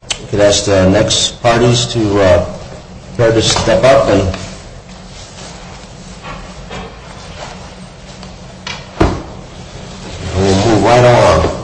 I would ask the next parties to prepare to step up and we will move right along.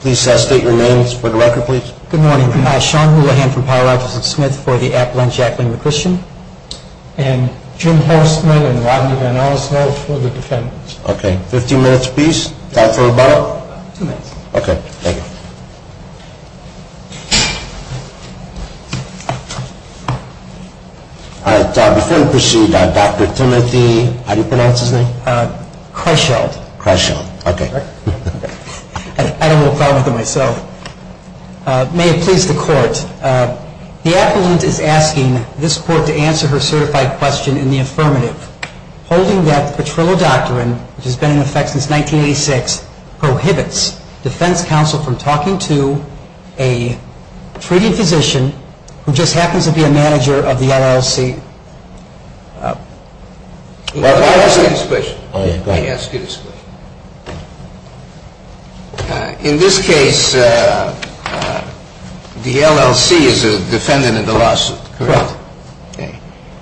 Please state your names for the record please. Good morning, my name is Sean Houlahan from Pyre Rogers and Smith for the Appalachian and Jacqueline McChristian. And Jim Horstman and Rodney Van Olsen for the defendants. Okay, 15 minutes please. Time for rebuttal? Two minutes. Okay, thank you. Alright, before we proceed, Dr. Timothy, how do you pronounce his name? Kreischeld. Kreischeld, okay. I don't have a problem with him myself. May it please the court. The appellant is asking this court to answer her certified question in the affirmative. Holding that the Petrillo Doctrine, which has been in effect since 1986, prohibits defense counsel from talking to a treating physician who just happens to be a manager of the LLC. May I ask you this question? Go ahead. May I ask you this question? In this case, the LLC is a defendant in the lawsuit, correct? Correct.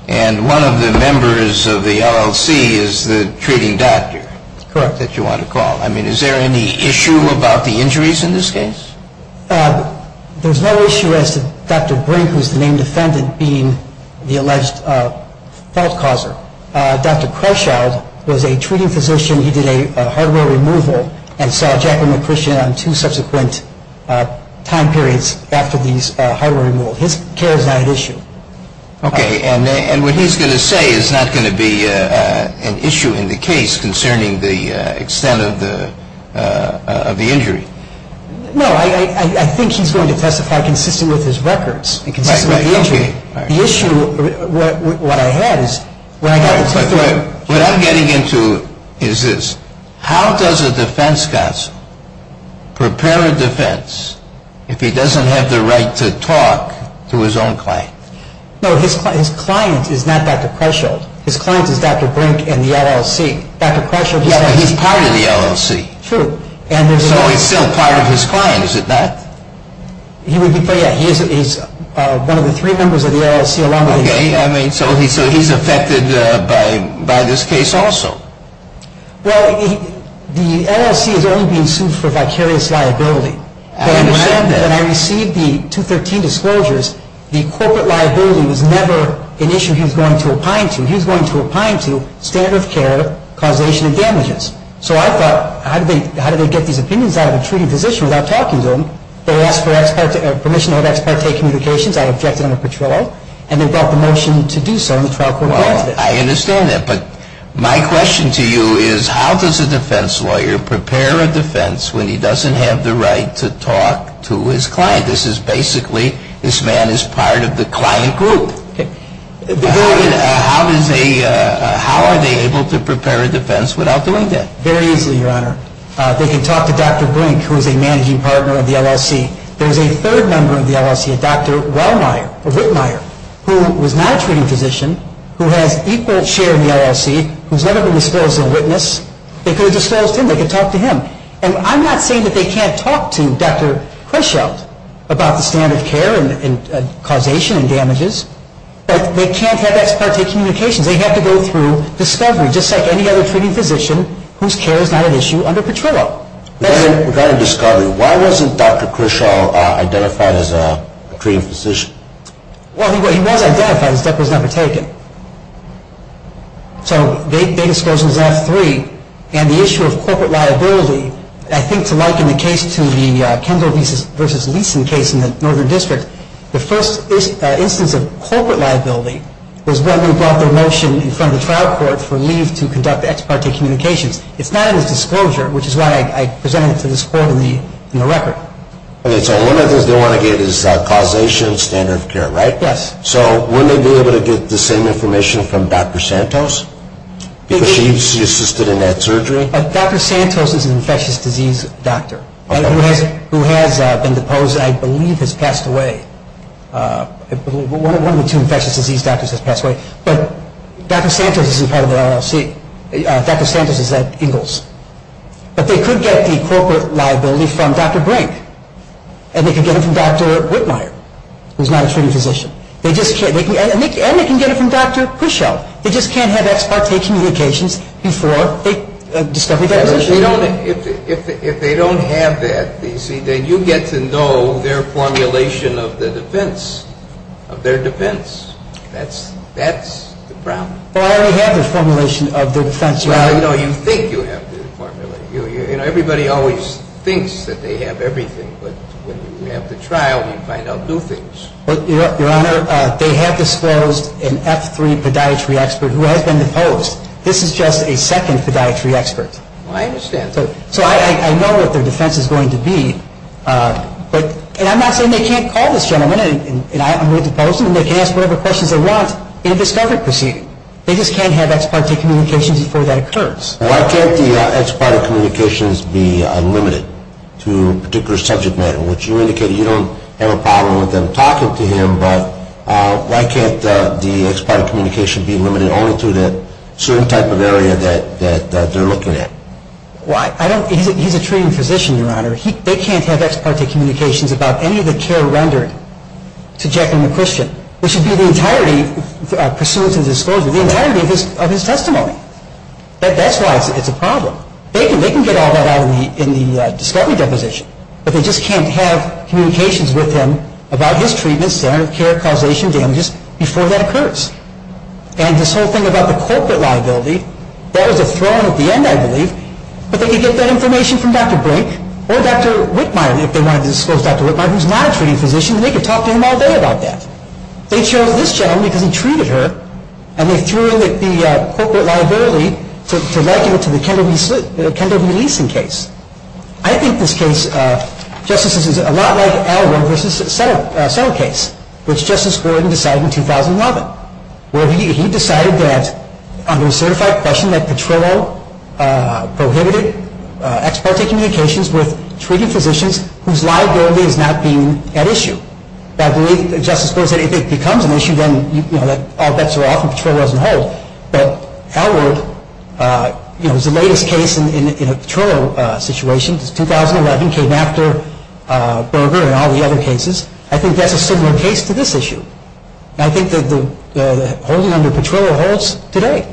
And one of the members of the LLC is the treating doctor? Correct. That you want to call. I mean, is there any issue about the injuries in this case? There's no issue as to Dr. Brink, who's the named defendant, being the alleged fault causer. Dr. Kreischeld was a treating physician. He did a hardware removal and saw Jacqueline McChristian on two subsequent time periods after these hardware removals. His care is not at issue. Okay. And what he's going to say is not going to be an issue in the case concerning the extent of the injury? No. I think he's going to testify consistent with his records. Consistent with the injury. The issue, what I had is when I got to the third. What I'm getting into is this. How does a defense counsel prepare a defense if he doesn't have the right to talk to his own client? No, his client is not Dr. Kreischeld. His client is Dr. Brink and the LLC. Dr. Kreischeld is part of the LLC. True. So he's still part of his client, is he not? He's one of the three members of the LLC. Okay. So he's affected by this case also? Well, the LLC is only being sued for vicarious liability. I understand that. When I received the 213 disclosures, the corporate liability was never an issue he was going to opine to. He was going to opine to standard of care, causation and damages. So I thought, how do they get these opinions out of a treating physician without talking to them? They asked for permission to have ex parte communications. I objected under Petrillo. And they brought the motion to do so in the trial court hearing today. Well, I understand that. But my question to you is, how does a defense lawyer prepare a defense when he doesn't have the right to talk to his client? This is basically, this man is part of the client group. How are they able to prepare a defense without doing that? Very easily, Your Honor. They can talk to Dr. Brink, who is a managing partner of the LLC. There is a third member of the LLC, Dr. Wellmeyer, or Whitmeyer, who was not a treating physician, who has equal share in the LLC, who has never been disposed of as a witness. They could have disposed him. They could have talked to him. And I'm not saying that they can't talk to Dr. Krischelt about the standard of care and causation and damages. But they can't have ex parte communications. They have to go through discovery, just like any other treating physician whose care is not an issue under Petrillo. Regarding discovery, why wasn't Dr. Krischelt identified as a treating physician? Well, he was identified. His death was never taken. So they disclosed him as F3. And the issue of corporate liability, I think to liken the case to the Kendall v. Leeson case in the Northern District, the first instance of corporate liability was when we brought the motion in front of the trial court for leave to conduct ex parte communications. It's not in the disclosure, which is why I presented it to this court in the record. Okay. So one of the things they want to get is causation, standard of care, right? Yes. So wouldn't they be able to get the same information from Dr. Santos? Because she assisted in that surgery? Dr. Santos is an infectious disease doctor who has been deposed, I believe has passed away. One of the two infectious disease doctors has passed away. But Dr. Santos isn't part of the LLC. Dr. Santos is at Ingalls. But they could get the corporate liability from Dr. Brink. And they could get it from Dr. Whitmire, who's not a treating physician. And they can get it from Dr. Krischelt. They just can't have ex parte communications before they discover their position. If they don't have that, then you get to know their formulation of the defense, of their defense. That's the problem. Well, I already have the formulation of their defense. Well, you know, you think you have the formulation. Everybody always thinks that they have everything. But when you have the trial, you find out new things. Your Honor, they have disclosed an F3 podiatry expert who has been deposed. This is just a second podiatry expert. I understand. So I know what their defense is going to be. And I'm not saying they can't call this gentleman, and I'm going to depose him, they can ask whatever questions they want in a discovery proceeding. They just can't have ex parte communications before that occurs. Why can't the ex parte communications be limited to a particular subject matter, which you indicated you don't have a problem with them talking to him, but why can't the ex parte communication be limited only to the certain type of area that they're looking at? Well, he's a treating physician, Your Honor. They can't have ex parte communications about any of the care rendered to Jack McChristian, which would be the entirety, pursuant to the disclosure, the entirety of his testimony. That's why it's a problem. They can get all that out in the discovery deposition, but they just can't have communications with him about his treatment, standard of care, causation, damages, before that occurs. And this whole thing about the corporate liability, that was a throne at the end, I believe, but they could get that information from Dr. Brink or Dr. Whitmire, if they wanted to disclose Dr. Whitmire, who's not a treating physician, and they could talk to him all day about that. They chose this gentleman because he treated her, and they threw in the corporate liability to liken it to the Kendall v. Leeson case. I think this case, Justices, is a lot like Al Warren v. Settle case, which Justice Gordon decided in 2011, where he decided that, under a certified question, that Petrillo prohibited ex parte communications with treating physicians whose liability is not being at issue. I believe Justice Gordon said if it becomes an issue, then all bets are off and Petrillo doesn't hold. But Al Warren, you know, is the latest case in a Petrillo situation. It's 2011, came after Berger and all the other cases. I think that's a similar case to this issue. I think that the holding under Petrillo holds today.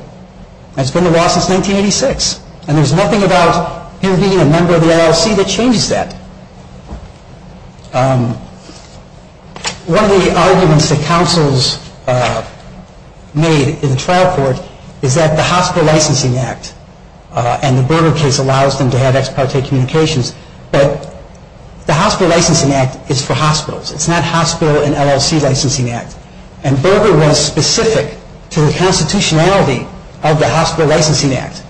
It's been a loss since 1986. And there's nothing about him being a member of the LLC that changes that. One of the arguments that counsels made in the trial court is that the Hospital Licensing Act and the Berger case allows them to have ex parte communications, but the Hospital Licensing Act is for hospitals. It's not Hospital and LLC Licensing Act. And Berger was specific to the constitutionality of the Hospital Licensing Act.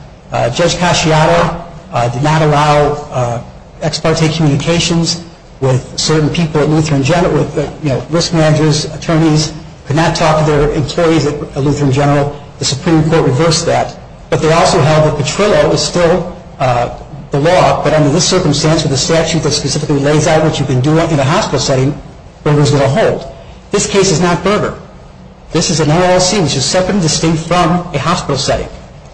Judge Casciato did not allow ex parte communications with certain people at Lutheran General, with, you know, risk managers, attorneys, could not talk to their employees at Lutheran General. The Supreme Court reversed that. But they also held that Petrillo was still the law, but under this circumstance with a statute that specifically lays out what you can do in a hospital setting, Berger's going to hold. This case is not Berger. This is an LLC, which is separate and distinct from a hospital setting.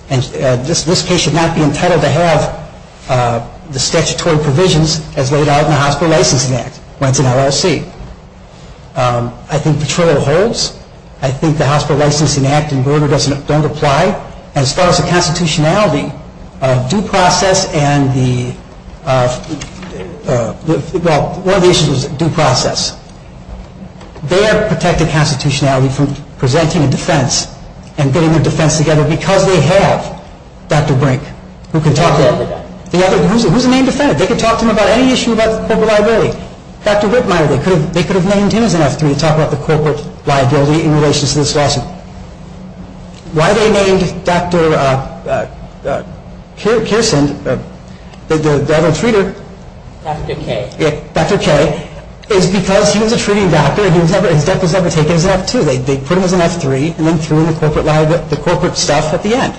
And this case should not be entitled to have the statutory provisions as laid out in the Hospital Licensing Act, when it's an LLC. I think Petrillo holds. I think the Hospital Licensing Act and Berger don't apply. As far as the constitutionality of due process and the, well, one of the issues was due process. They're protecting constitutionality from presenting a defense and getting their defense together because they have Dr. Brink, who can talk to them. Who's a named defendant? They can talk to them about any issue about the corporate liability. Dr. Whitmire, they could have named him as an F3 to talk about the corporate liability in relation to this lawsuit. Why they named Dr. Kirsten, the other treater? Dr. K. Dr. K. Is because he was a treating doctor. His death was never taken as an F2. They put him as an F3 and then threw in the corporate stuff at the end.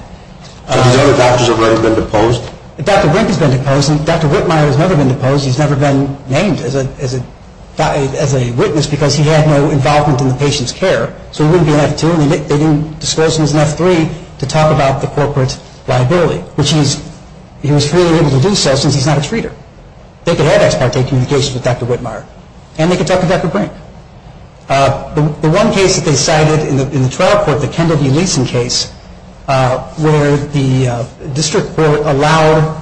Are these other doctors already been deposed? Dr. Brink has been deposed and Dr. Whitmire has never been deposed. He's never been named as a witness because he had no involvement in the patient's care. So he wouldn't be an F2 and they didn't dispose him as an F3 to talk about the corporate liability, which he was freely able to do so since he's not a treater. They could have ex parte communications with Dr. Whitmire and they could talk to Dr. Brink. The one case that they cited in the trial court, the Kendall v. Leeson case, where the district court allowed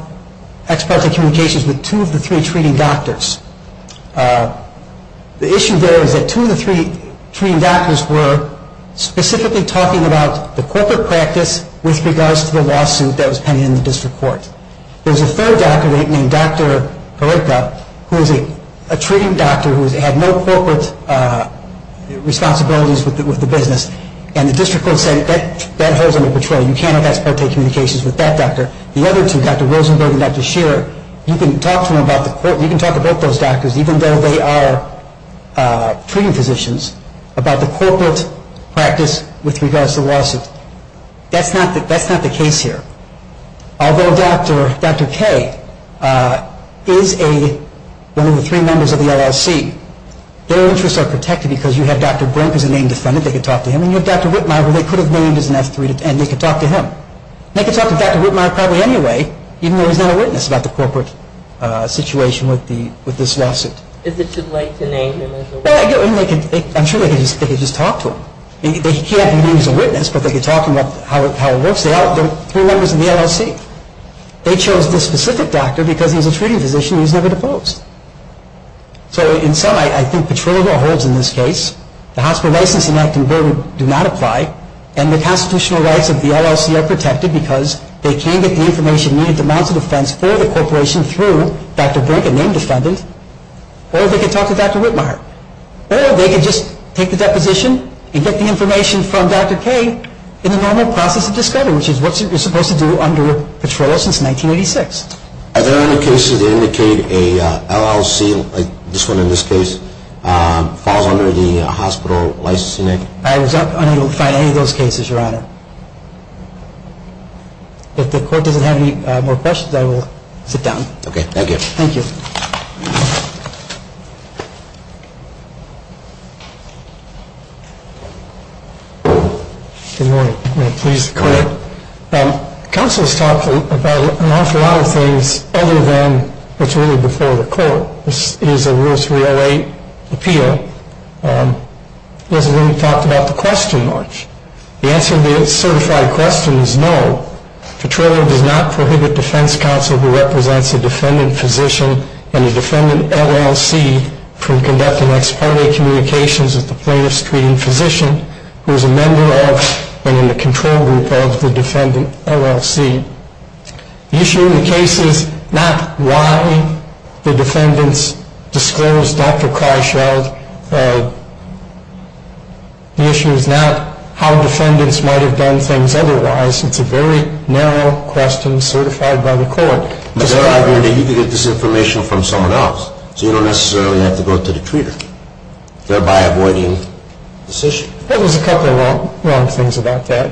ex parte communications with two of the three treating doctors. The issue there is that two of the three treating doctors were specifically talking about the corporate practice with regards to the lawsuit that was pending in the district court. There was a third doctor named Dr. Gorica who was a treating doctor who had no corporate responsibilities with the business and the district court said that that holds them in betrayal. You can't have ex parte communications with that doctor. The other two, Dr. Rosenberg and Dr. Shearer, you can talk to them about those doctors even though they are treating physicians about the corporate practice with regards to the lawsuit. That's not the case here. Although Dr. K is one of the three members of the LLC, their interests are protected because you have Dr. Brink as a named defendant, they could talk to him, and you have Dr. Whitmire who they could have named as an F3 and they could talk to him. They could talk to Dr. Whitmire probably anyway, even though he's not a witness about the corporate situation with this lawsuit. Is it too late to name him as a witness? I'm sure they could just talk to him. He can't be named as a witness, but they could talk to him about how it works. They're three members of the LLC. They chose this specific doctor because he was a treating physician and he was never deposed. So in sum, I think Petrillo Law holds in this case. The hospital licensing act and burden do not apply, and the constitutional rights of the LLC are protected because they can get the information needed to mount a defense for the corporation through Dr. Brink, a named defendant, or they could talk to Dr. Whitmire. Or they could just take the deposition and get the information from Dr. K in the normal process of discovery, which is what you're supposed to do under Petrillo since 1986. Are there any cases that indicate an LLC, like this one in this case, falls under the hospital licensing act? I was not going to find any of those cases, Your Honor. If the court doesn't have any more questions, I will sit down. Okay, thank you. Thank you. Good morning. Please, go ahead. Counsel has talked about an awful lot of things other than what's really before the court. This is a Rule 308 appeal. He hasn't really talked about the question much. The answer to the certified question is no. Petrillo does not prohibit defense counsel who represents a defendant physician and a defendant LLC from conducting ex parte communications with the plaintiff's treating physician, who is a member of and in the control group of the defendant LLC. The issue in the case is not why the defendants disclosed Dr. Kreischeld. The issue is not how defendants might have done things otherwise. It's a very narrow question certified by the court. You could get this information from someone else, so you don't necessarily have to go to the treater, thereby avoiding this issue. Well, there's a couple of wrong things about that.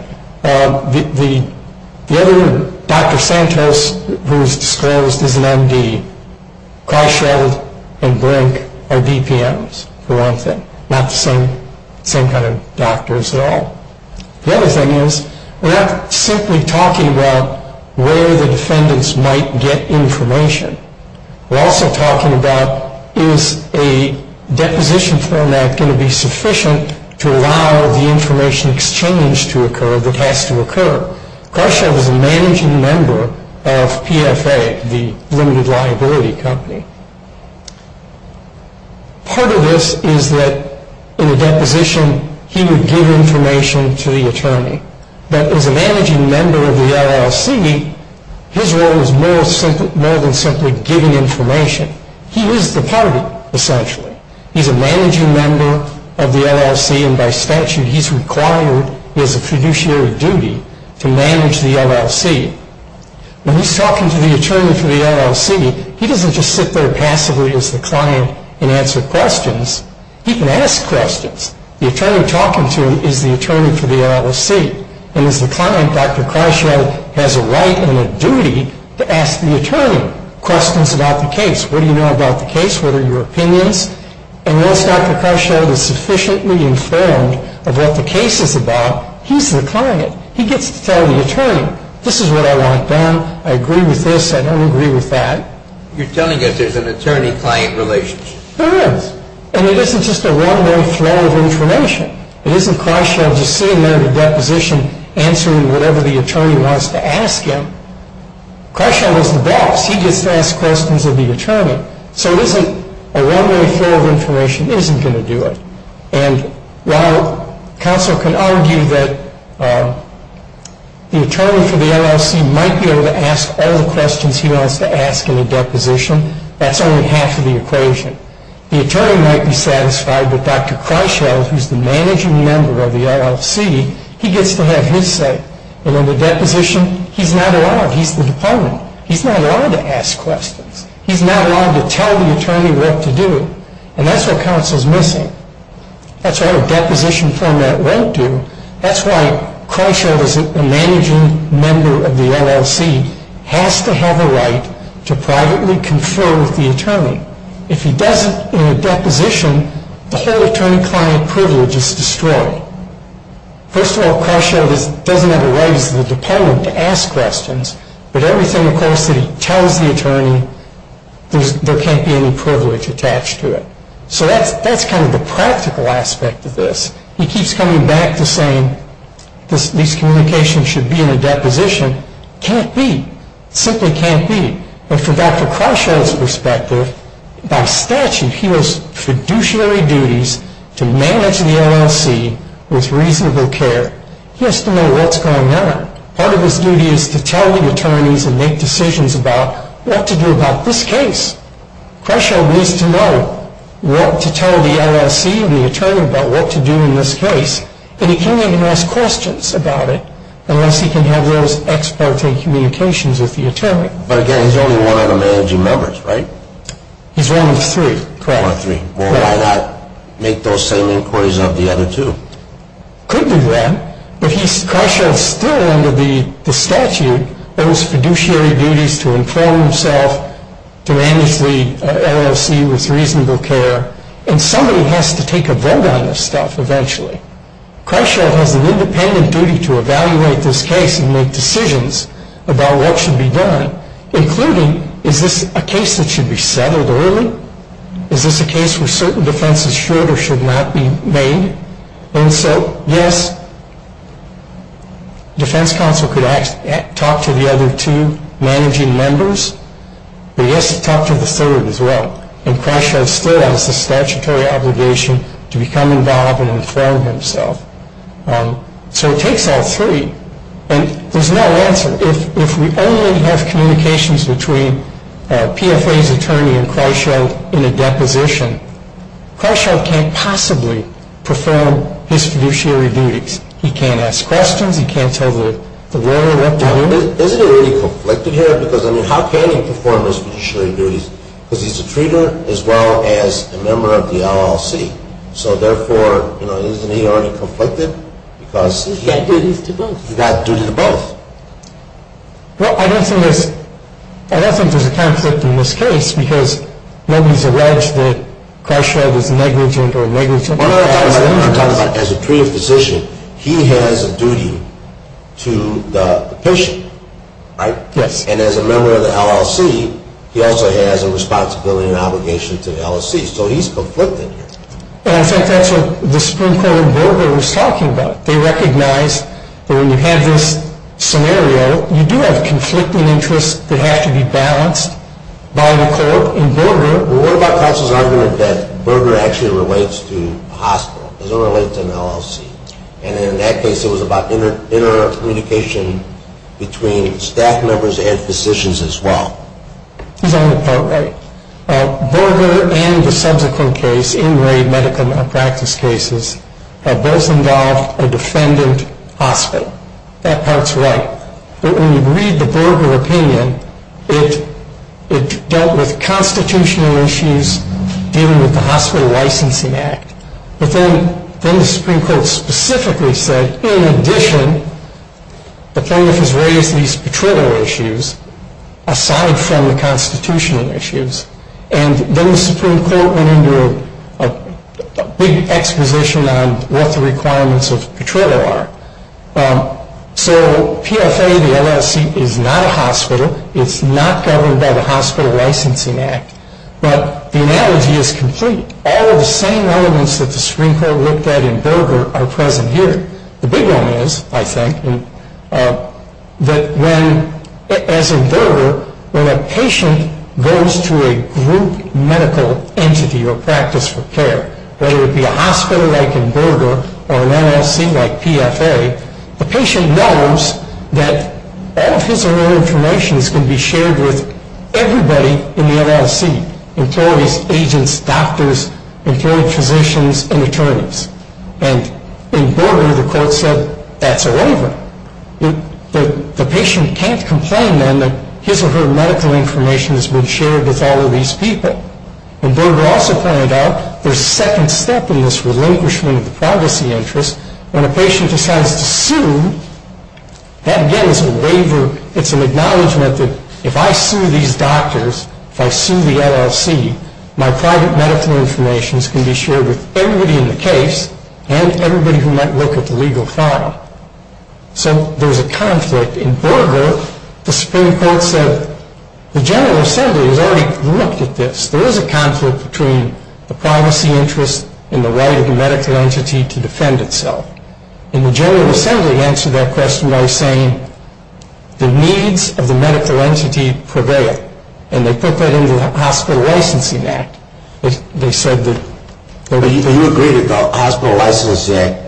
The other Dr. Santos who is disclosed as an MD, Kreischeld and Brink are BPMs for one thing, not the same kind of doctors at all. The other thing is we're not simply talking about where the defendants might get information. We're also talking about is a deposition format going to be sufficient to allow the information exchange to occur that has to occur. Kreischeld is a managing member of PFA, the limited liability company. Part of this is that in a deposition he would give information to the attorney. But as a managing member of the LLC, his role is more than simply giving information. He is the party, essentially. He's a managing member of the LLC, and by statute he's required as a fiduciary duty to manage the LLC. When he's talking to the attorney for the LLC, he doesn't just sit there passively as the client and answer questions. He can ask questions. The attorney talking to him is the attorney for the LLC. And as the client, Dr. Kreischeld has a right and a duty to ask the attorney questions about the case. What do you know about the case? What are your opinions? And once Dr. Kreischeld is sufficiently informed of what the case is about, he's the client. He gets to tell the attorney, this is what I want done. I agree with this. I don't agree with that. You're telling us there's an attorney-client relationship. There is. And it isn't just a one-way flow of information. It isn't Kreischeld just sitting there at a deposition answering whatever the attorney wants to ask him. Kreischeld is the boss. He gets to ask questions of the attorney. So it isn't a one-way flow of information. He isn't going to do it. And while counsel can argue that the attorney for the LLC might be able to ask all the questions he wants to ask in a deposition, that's only half of the equation. The attorney might be satisfied that Dr. Kreischeld, who's the managing member of the LLC, he gets to have his say. And in a deposition, he's not allowed. He's the department. He's not allowed to ask questions. He's not allowed to tell the attorney what to do. And that's what counsel is missing. That's what a deposition format won't do. That's why Kreischeld, as a managing member of the LLC, has to have a right to privately confer with the attorney. If he doesn't in a deposition, the whole attorney-client privilege is destroyed. First of all, Kreischeld doesn't have a right as the department to ask questions, but everything, of course, that he tells the attorney, there can't be any privilege attached to it. So that's kind of the practical aspect of this. He keeps coming back to saying these communications should be in a deposition. Can't be. Simply can't be. But from Dr. Kreischeld's perspective, by statute, he has fiduciary duties to manage the LLC with reasonable care. He has to know what's going on. Part of his duty is to tell the attorneys and make decisions about what to do about this case. Kreischeld needs to know what to tell the LLC and the attorney about what to do in this case. But he can't even ask questions about it unless he can have those ex parte communications with the attorney. But again, he's only one of the managing members, right? He's one of three. One of three. Well, why not make those same inquiries of the other two? Could do that. But Kreischeld still, under the statute, owes fiduciary duties to inform himself to manage the LLC with reasonable care. And somebody has to take a vote on this stuff eventually. Kreischeld has an independent duty to evaluate this case and make decisions about what should be done, including is this a case that should be settled early? Is this a case where certain defenses should or should not be made? And so, yes, defense counsel could talk to the other two managing members. But he has to talk to the third as well. And Kreischeld still has the statutory obligation to become involved and inform himself. So it takes all three. And there's no answer. If we only have communications between PFA's attorney and Kreischeld in a deposition, Kreischeld can't possibly perform his fiduciary duties. He can't ask questions. He can't tell the lawyer what to do. Isn't it already conflicted here? Because, I mean, how can he perform his fiduciary duties? Because he's a treater as well as a member of the LLC. So, therefore, isn't he already conflicted? He's got duties to both. He's got duties to both. Well, I don't think there's a conflict in this case because nobody's alleged that Kreischeld is negligent or negligent. As a treated physician, he has a duty to the patient, right? Yes. And as a member of the LLC, he also has a responsibility and obligation to the LLC. So he's conflicted here. And I think that's what the Supreme Court in Berger was talking about. They recognized that when you have this scenario, you do have conflicting interests that have to be balanced by the court in Berger. What about Counsel's argument that Berger actually relates to a hospital? It doesn't relate to an LLC. And in that case, it was about intercommunication between staff members and physicians as well. He's on the court, right? Berger and the subsequent case, in-grade medical malpractice cases, have both involved a defendant hospital. That part's right. But when you read the Berger opinion, it dealt with constitutional issues dealing with the Hospital Licensing Act. But then the Supreme Court specifically said, in addition, the plaintiff has raised these patrol issues aside from the constitutional issues. And then the Supreme Court went into a big exposition on what the requirements of patrol are. So PFA, the LLC, is not a hospital. It's not governed by the Hospital Licensing Act. But the analogy is complete. All of the same elements that the Supreme Court looked at in Berger are present here. The big one is, I think, that when, as in Berger, when a patient goes to a group medical entity or practice for care, whether it be a hospital like in Berger or an LLC like PFA, the patient knows that all of his or her information is going to be shared with everybody in the LLC, employees, agents, doctors, employees, physicians, and attorneys. And in Berger, the court said, that's over. The patient can't complain then that his or her medical information has been shared with all of these people. And Berger also pointed out, there's a second step in this relinquishment of the privacy interest. When a patient decides to sue, that again is a waiver. It's an acknowledgement that if I sue these doctors, if I sue the LLC, my private medical information can be shared with everybody in the case and everybody who might look at the legal file. So there's a conflict. In Berger, the Supreme Court said, the General Assembly has already looked at this. There is a conflict between the privacy interest and the right of the medical entity to defend itself. And the General Assembly answered that question by saying, the needs of the medical entity prevail. And they put that into the Hospital Licensing Act. They said that... But you agree that the Hospital Licensing Act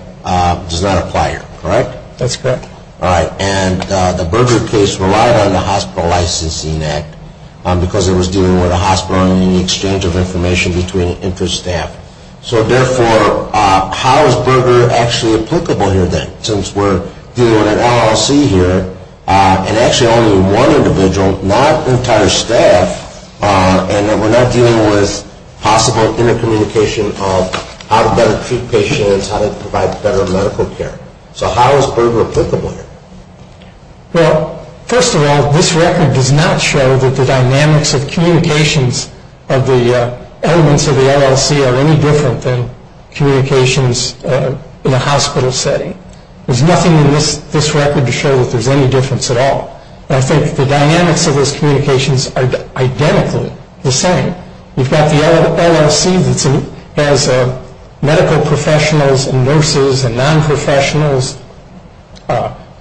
does not apply here, correct? That's correct. All right. And the Berger case relied on the Hospital Licensing Act because it was dealing with a hospital and the exchange of information between infant staff. So therefore, how is Berger actually applicable here then? Since we're dealing with an LLC here and actually only one individual, not entire staff, and we're not dealing with possible intercommunication of how to better treat patients, how to provide better medical care. So how is Berger applicable here? Well, first of all, this record does not show that the dynamics of communications of the elements of the LLC are any different than communications in a hospital setting. There's nothing in this record to show that there's any difference at all. I think the dynamics of those communications are identically the same. You've got the LLC that has medical professionals and nurses and non-professionals,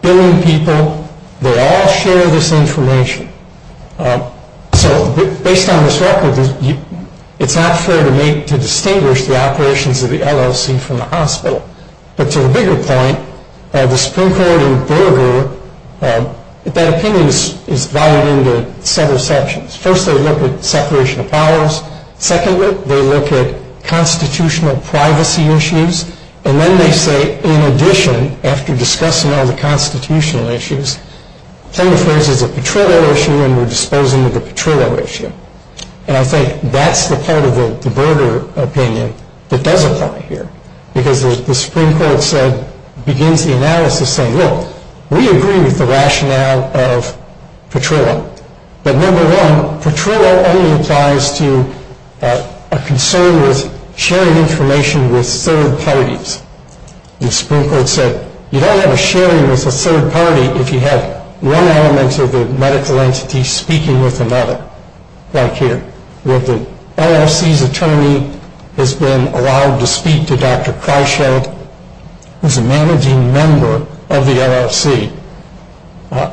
billing people. They all share this information. So based on this record, it's not fair to me to distinguish the operations of the LLC from the hospital. But to the bigger point, the Supreme Court in Berger, that opinion is divided into several sections. First, they look at separation of powers. Secondly, they look at constitutional privacy issues. And then they say, in addition, after discussing all the constitutional issues, plaintiff raises a Petrillo issue and we're disposing of the Petrillo issue. And I think that's the part of the Berger opinion that does apply here because the Supreme Court begins the analysis saying, look, we agree with the rationale of Petrillo. But number one, Petrillo only applies to a concern with sharing information with third parties. The Supreme Court said you don't have a sharing with a third party if you have one element of the medical entity speaking with another, like here, where the LLC's attorney has been allowed to speak to Dr. Kreischeld, who's a managing member of the LLC.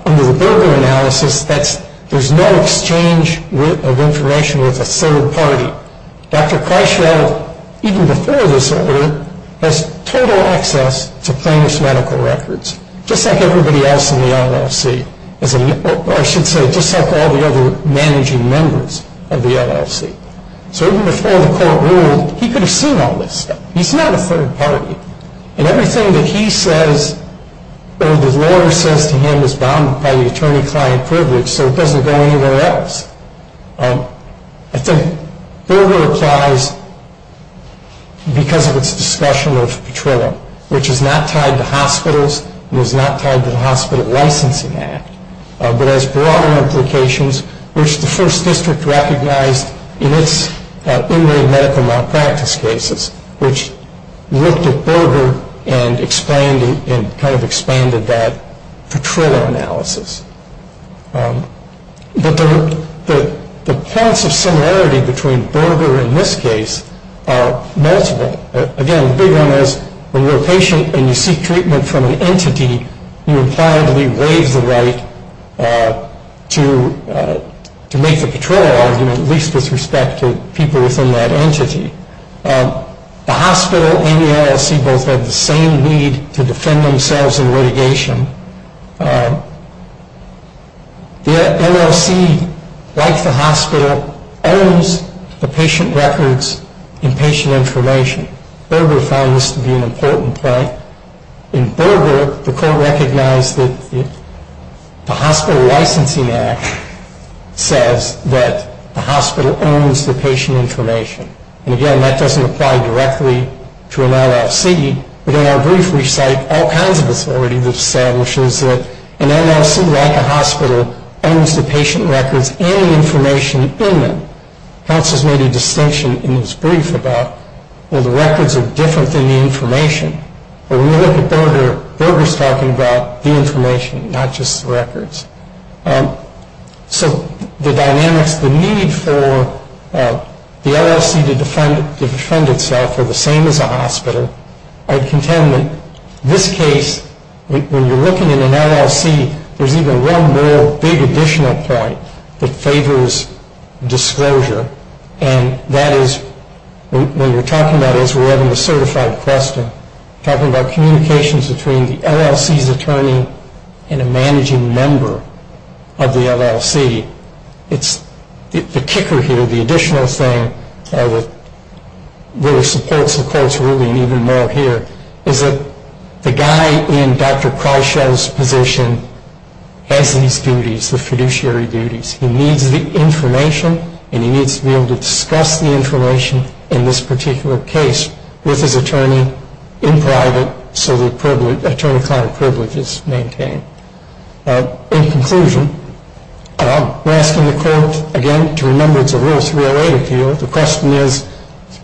Under the Berger analysis, there's no exchange of information with a third party. Dr. Kreischeld, even before this order, has total access to plaintiff's medical records, just like everybody else in the LLC, or I should say, just like all the other managing members of the LLC. So even before the court ruled, he could have seen all this stuff. He's not a third party. And everything that he says or the lawyer says to him is bounded by the attorney-client privilege, so it doesn't go anywhere else. I think Berger applies because of its discussion of Petrillo, which is not tied to hospitals and is not tied to the Hospital Licensing Act, but has broader implications, which the First District recognized in its in-way medical malpractice cases, which looked at Berger and expanded that Petrillo analysis. But the points of similarity between Berger and this case are multiple. Again, the big one is when you're a patient and you seek treatment from an entity, you impliedly waive the right to make the Petrillo argument, at least with respect to people within that entity. The hospital and the LLC both have the same need to defend themselves in litigation. The LLC, like the hospital, owns the patient records and patient information. Berger found this to be an important point. In Berger, the court recognized that the Hospital Licensing Act says that the hospital owns the patient information. And again, that doesn't apply directly to an LLC, but in our brief we cite all kinds of authority that establishes that an LLC, like a hospital, owns the patient records and the information in them. House has made a distinction in this brief about, well, the records are different than the information. But when you look at Berger, Berger's talking about the information, not just the records. So the dynamics, the need for the LLC to defend itself are the same as a hospital. I contend that this case, when you're looking at an LLC, there's even one more big additional point that favors disclosure, and that is when you're talking about, as we're having a certified question, talking about communications between the LLC's attorney and a managing member of the LLC, the kicker here, the additional thing that really supports the court's ruling even more here, is that the guy in Dr. Kreischel's position has these duties, the fiduciary duties. He needs the information, and he needs to be able to discuss the information in this particular case with his attorney in private so the attorney-client privilege is maintained. In conclusion, we're asking the court, again, to remember it's a Rule 308 appeal. The question is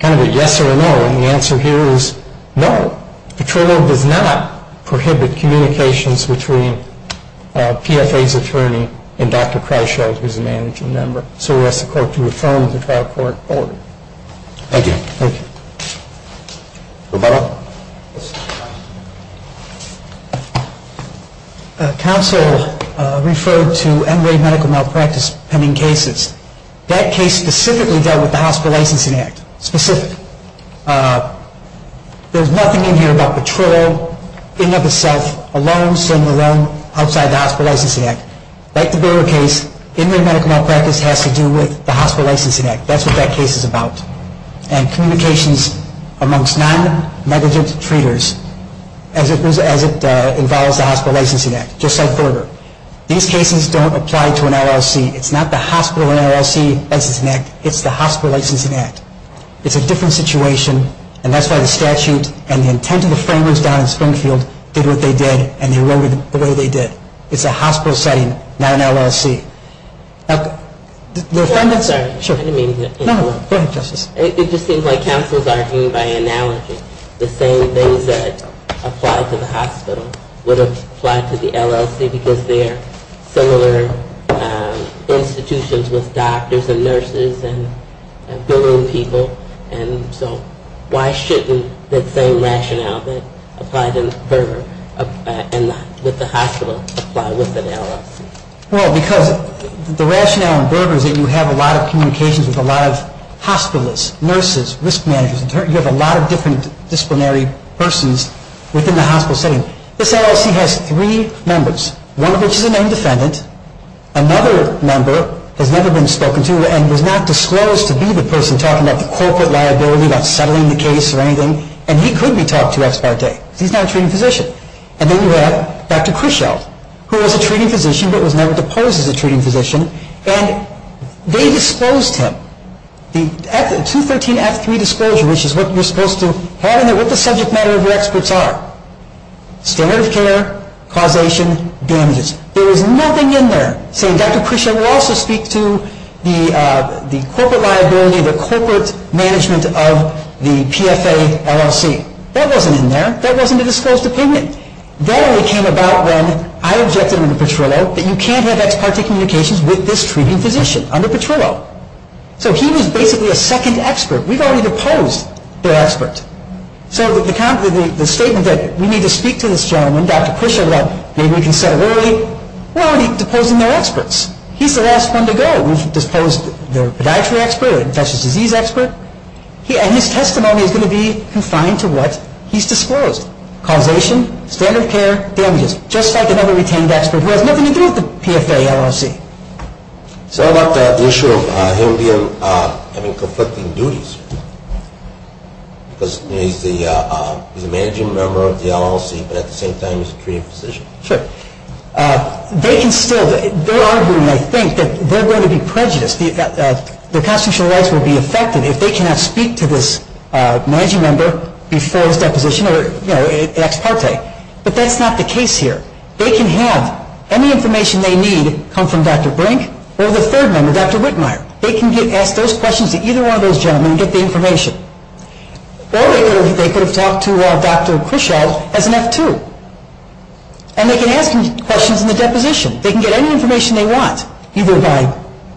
kind of a yes or a no, and the answer here is no. Petrolo does not prohibit communications between PFA's attorney and Dr. Kreischel, who's a managing member. So we ask the court to affirm the trial court order. Thank you. Thank you. Roberto? Counsel referred to end-rate medical malpractice pending cases. That case specifically dealt with the Hospital Licensing Act. Specific. There's nothing in here about Petrolo, in and of itself, alone, single, alone, outside the Hospital Licensing Act. Like the Boer case, end-rate medical malpractice has to do with the Hospital Licensing Act. That's what that case is about. And communications amongst non-negligent treaters as it involves the Hospital Licensing Act. Just like Boer. These cases don't apply to an LLC. It's not the Hospital LLC Licensing Act. It's the Hospital Licensing Act. It's a different situation, and that's why the statute and the intent of the framers down in Springfield did what they did, and they wrote it the way they did. It's a hospital setting, not an LLC. The defendants are. I didn't mean to interrupt. No, go ahead, Justice. It just seems like counsels are aimed by analogy. The same things that apply to the hospital would apply to the LLC because they're similar institutions with doctors and nurses and billing people, and so why shouldn't the same rationale that applied in Boer and with the hospital apply with an LLC? Well, because the rationale in Boer is that you have a lot of communications with a lot of hospitalists, nurses, risk managers. You have a lot of different disciplinary persons within the hospital setting. This LLC has three members, one of which is a named defendant. Another member has never been spoken to and was not disclosed to be the person talking about the corporate liability, about settling the case or anything, and he could be talked to ex parte because he's not a treating physician. And then you have Dr. Kruschel, who was a treating physician but was never deposed as a treating physician, and they disposed him. The 213-F3 disclosure, which is what you're supposed to have in there, what the subject matter of your experts are? Standard of care, causation, damages. There is nothing in there saying Dr. Kruschel will also speak to the corporate liability, the corporate management of the PFA LLC. That wasn't in there. That wasn't a disclosed opinion. That only came about when I objected under Petrillo that you can't have ex parte communications with this treating physician under Petrillo. So he was basically a second expert. We've already deposed their expert. So the statement that we need to speak to this gentleman, Dr. Kruschel, about maybe we can settle early, we're already deposing their experts. He's the last one to go. We've disposed their podiatry expert, infectious disease expert, and his testimony is going to be confined to what he's disclosed, causation, standard of care, damages, just like another retained expert who has nothing to do with the PFA LLC. What about that issue of him having conflicting duties? Because he's a managing member of the LLC, but at the same time he's a treating physician. Sure. They can still, they're arguing, I think, that they're going to be prejudiced. Their constitutional rights will be affected if they cannot speak to this managing member before his deposition or ex parte. But that's not the case here. They can have any information they need come from Dr. Brink or the third member, Dr. Whitmire. They can ask those questions to either one of those gentlemen and get the information. Or they could have talked to Dr. Kruschel as an F2. And they can ask him questions in the deposition. They can get any information they want, either by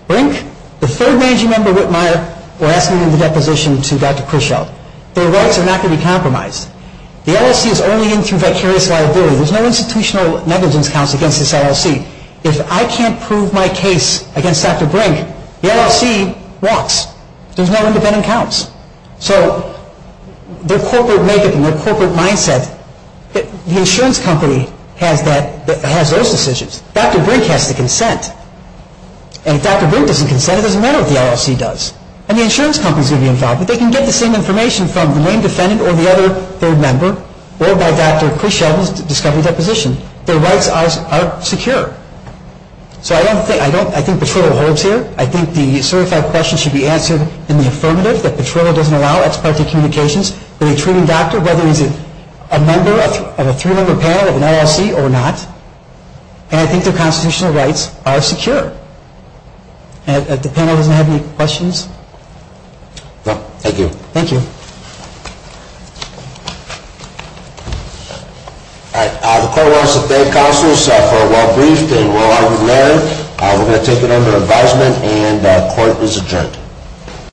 Brink, the third managing member, Whitmire, or asking him the deposition to Dr. Kruschel. Their rights are not going to be compromised. The LLC is only in through vicarious liability. There's no institutional negligence counts against this LLC. If I can't prove my case against Dr. Brink, the LLC walks. There's no independent counts. So their corporate makeup and their corporate mindset, the insurance company has those decisions. Dr. Brink has to consent. And if Dr. Brink doesn't consent, it doesn't matter what the LLC does. And the insurance company is going to be involved. But they can get the same information from the main defendant or the other third member or by Dr. Kruschel's discovery deposition. Their rights are secure. So I don't think Petrillo holds here. I think the certified questions should be answered in the affirmative, that Petrillo doesn't allow ex parte communications with a treating doctor, whether he's a member of a three-member panel of an LLC or not. And I think their constitutional rights are secure. And if the panel doesn't have any questions? No, thank you. Thank you. All right. The court wants to thank counsels for a well-briefed and well-argued hearing. We're going to take it under advisement, and the court is adjourned.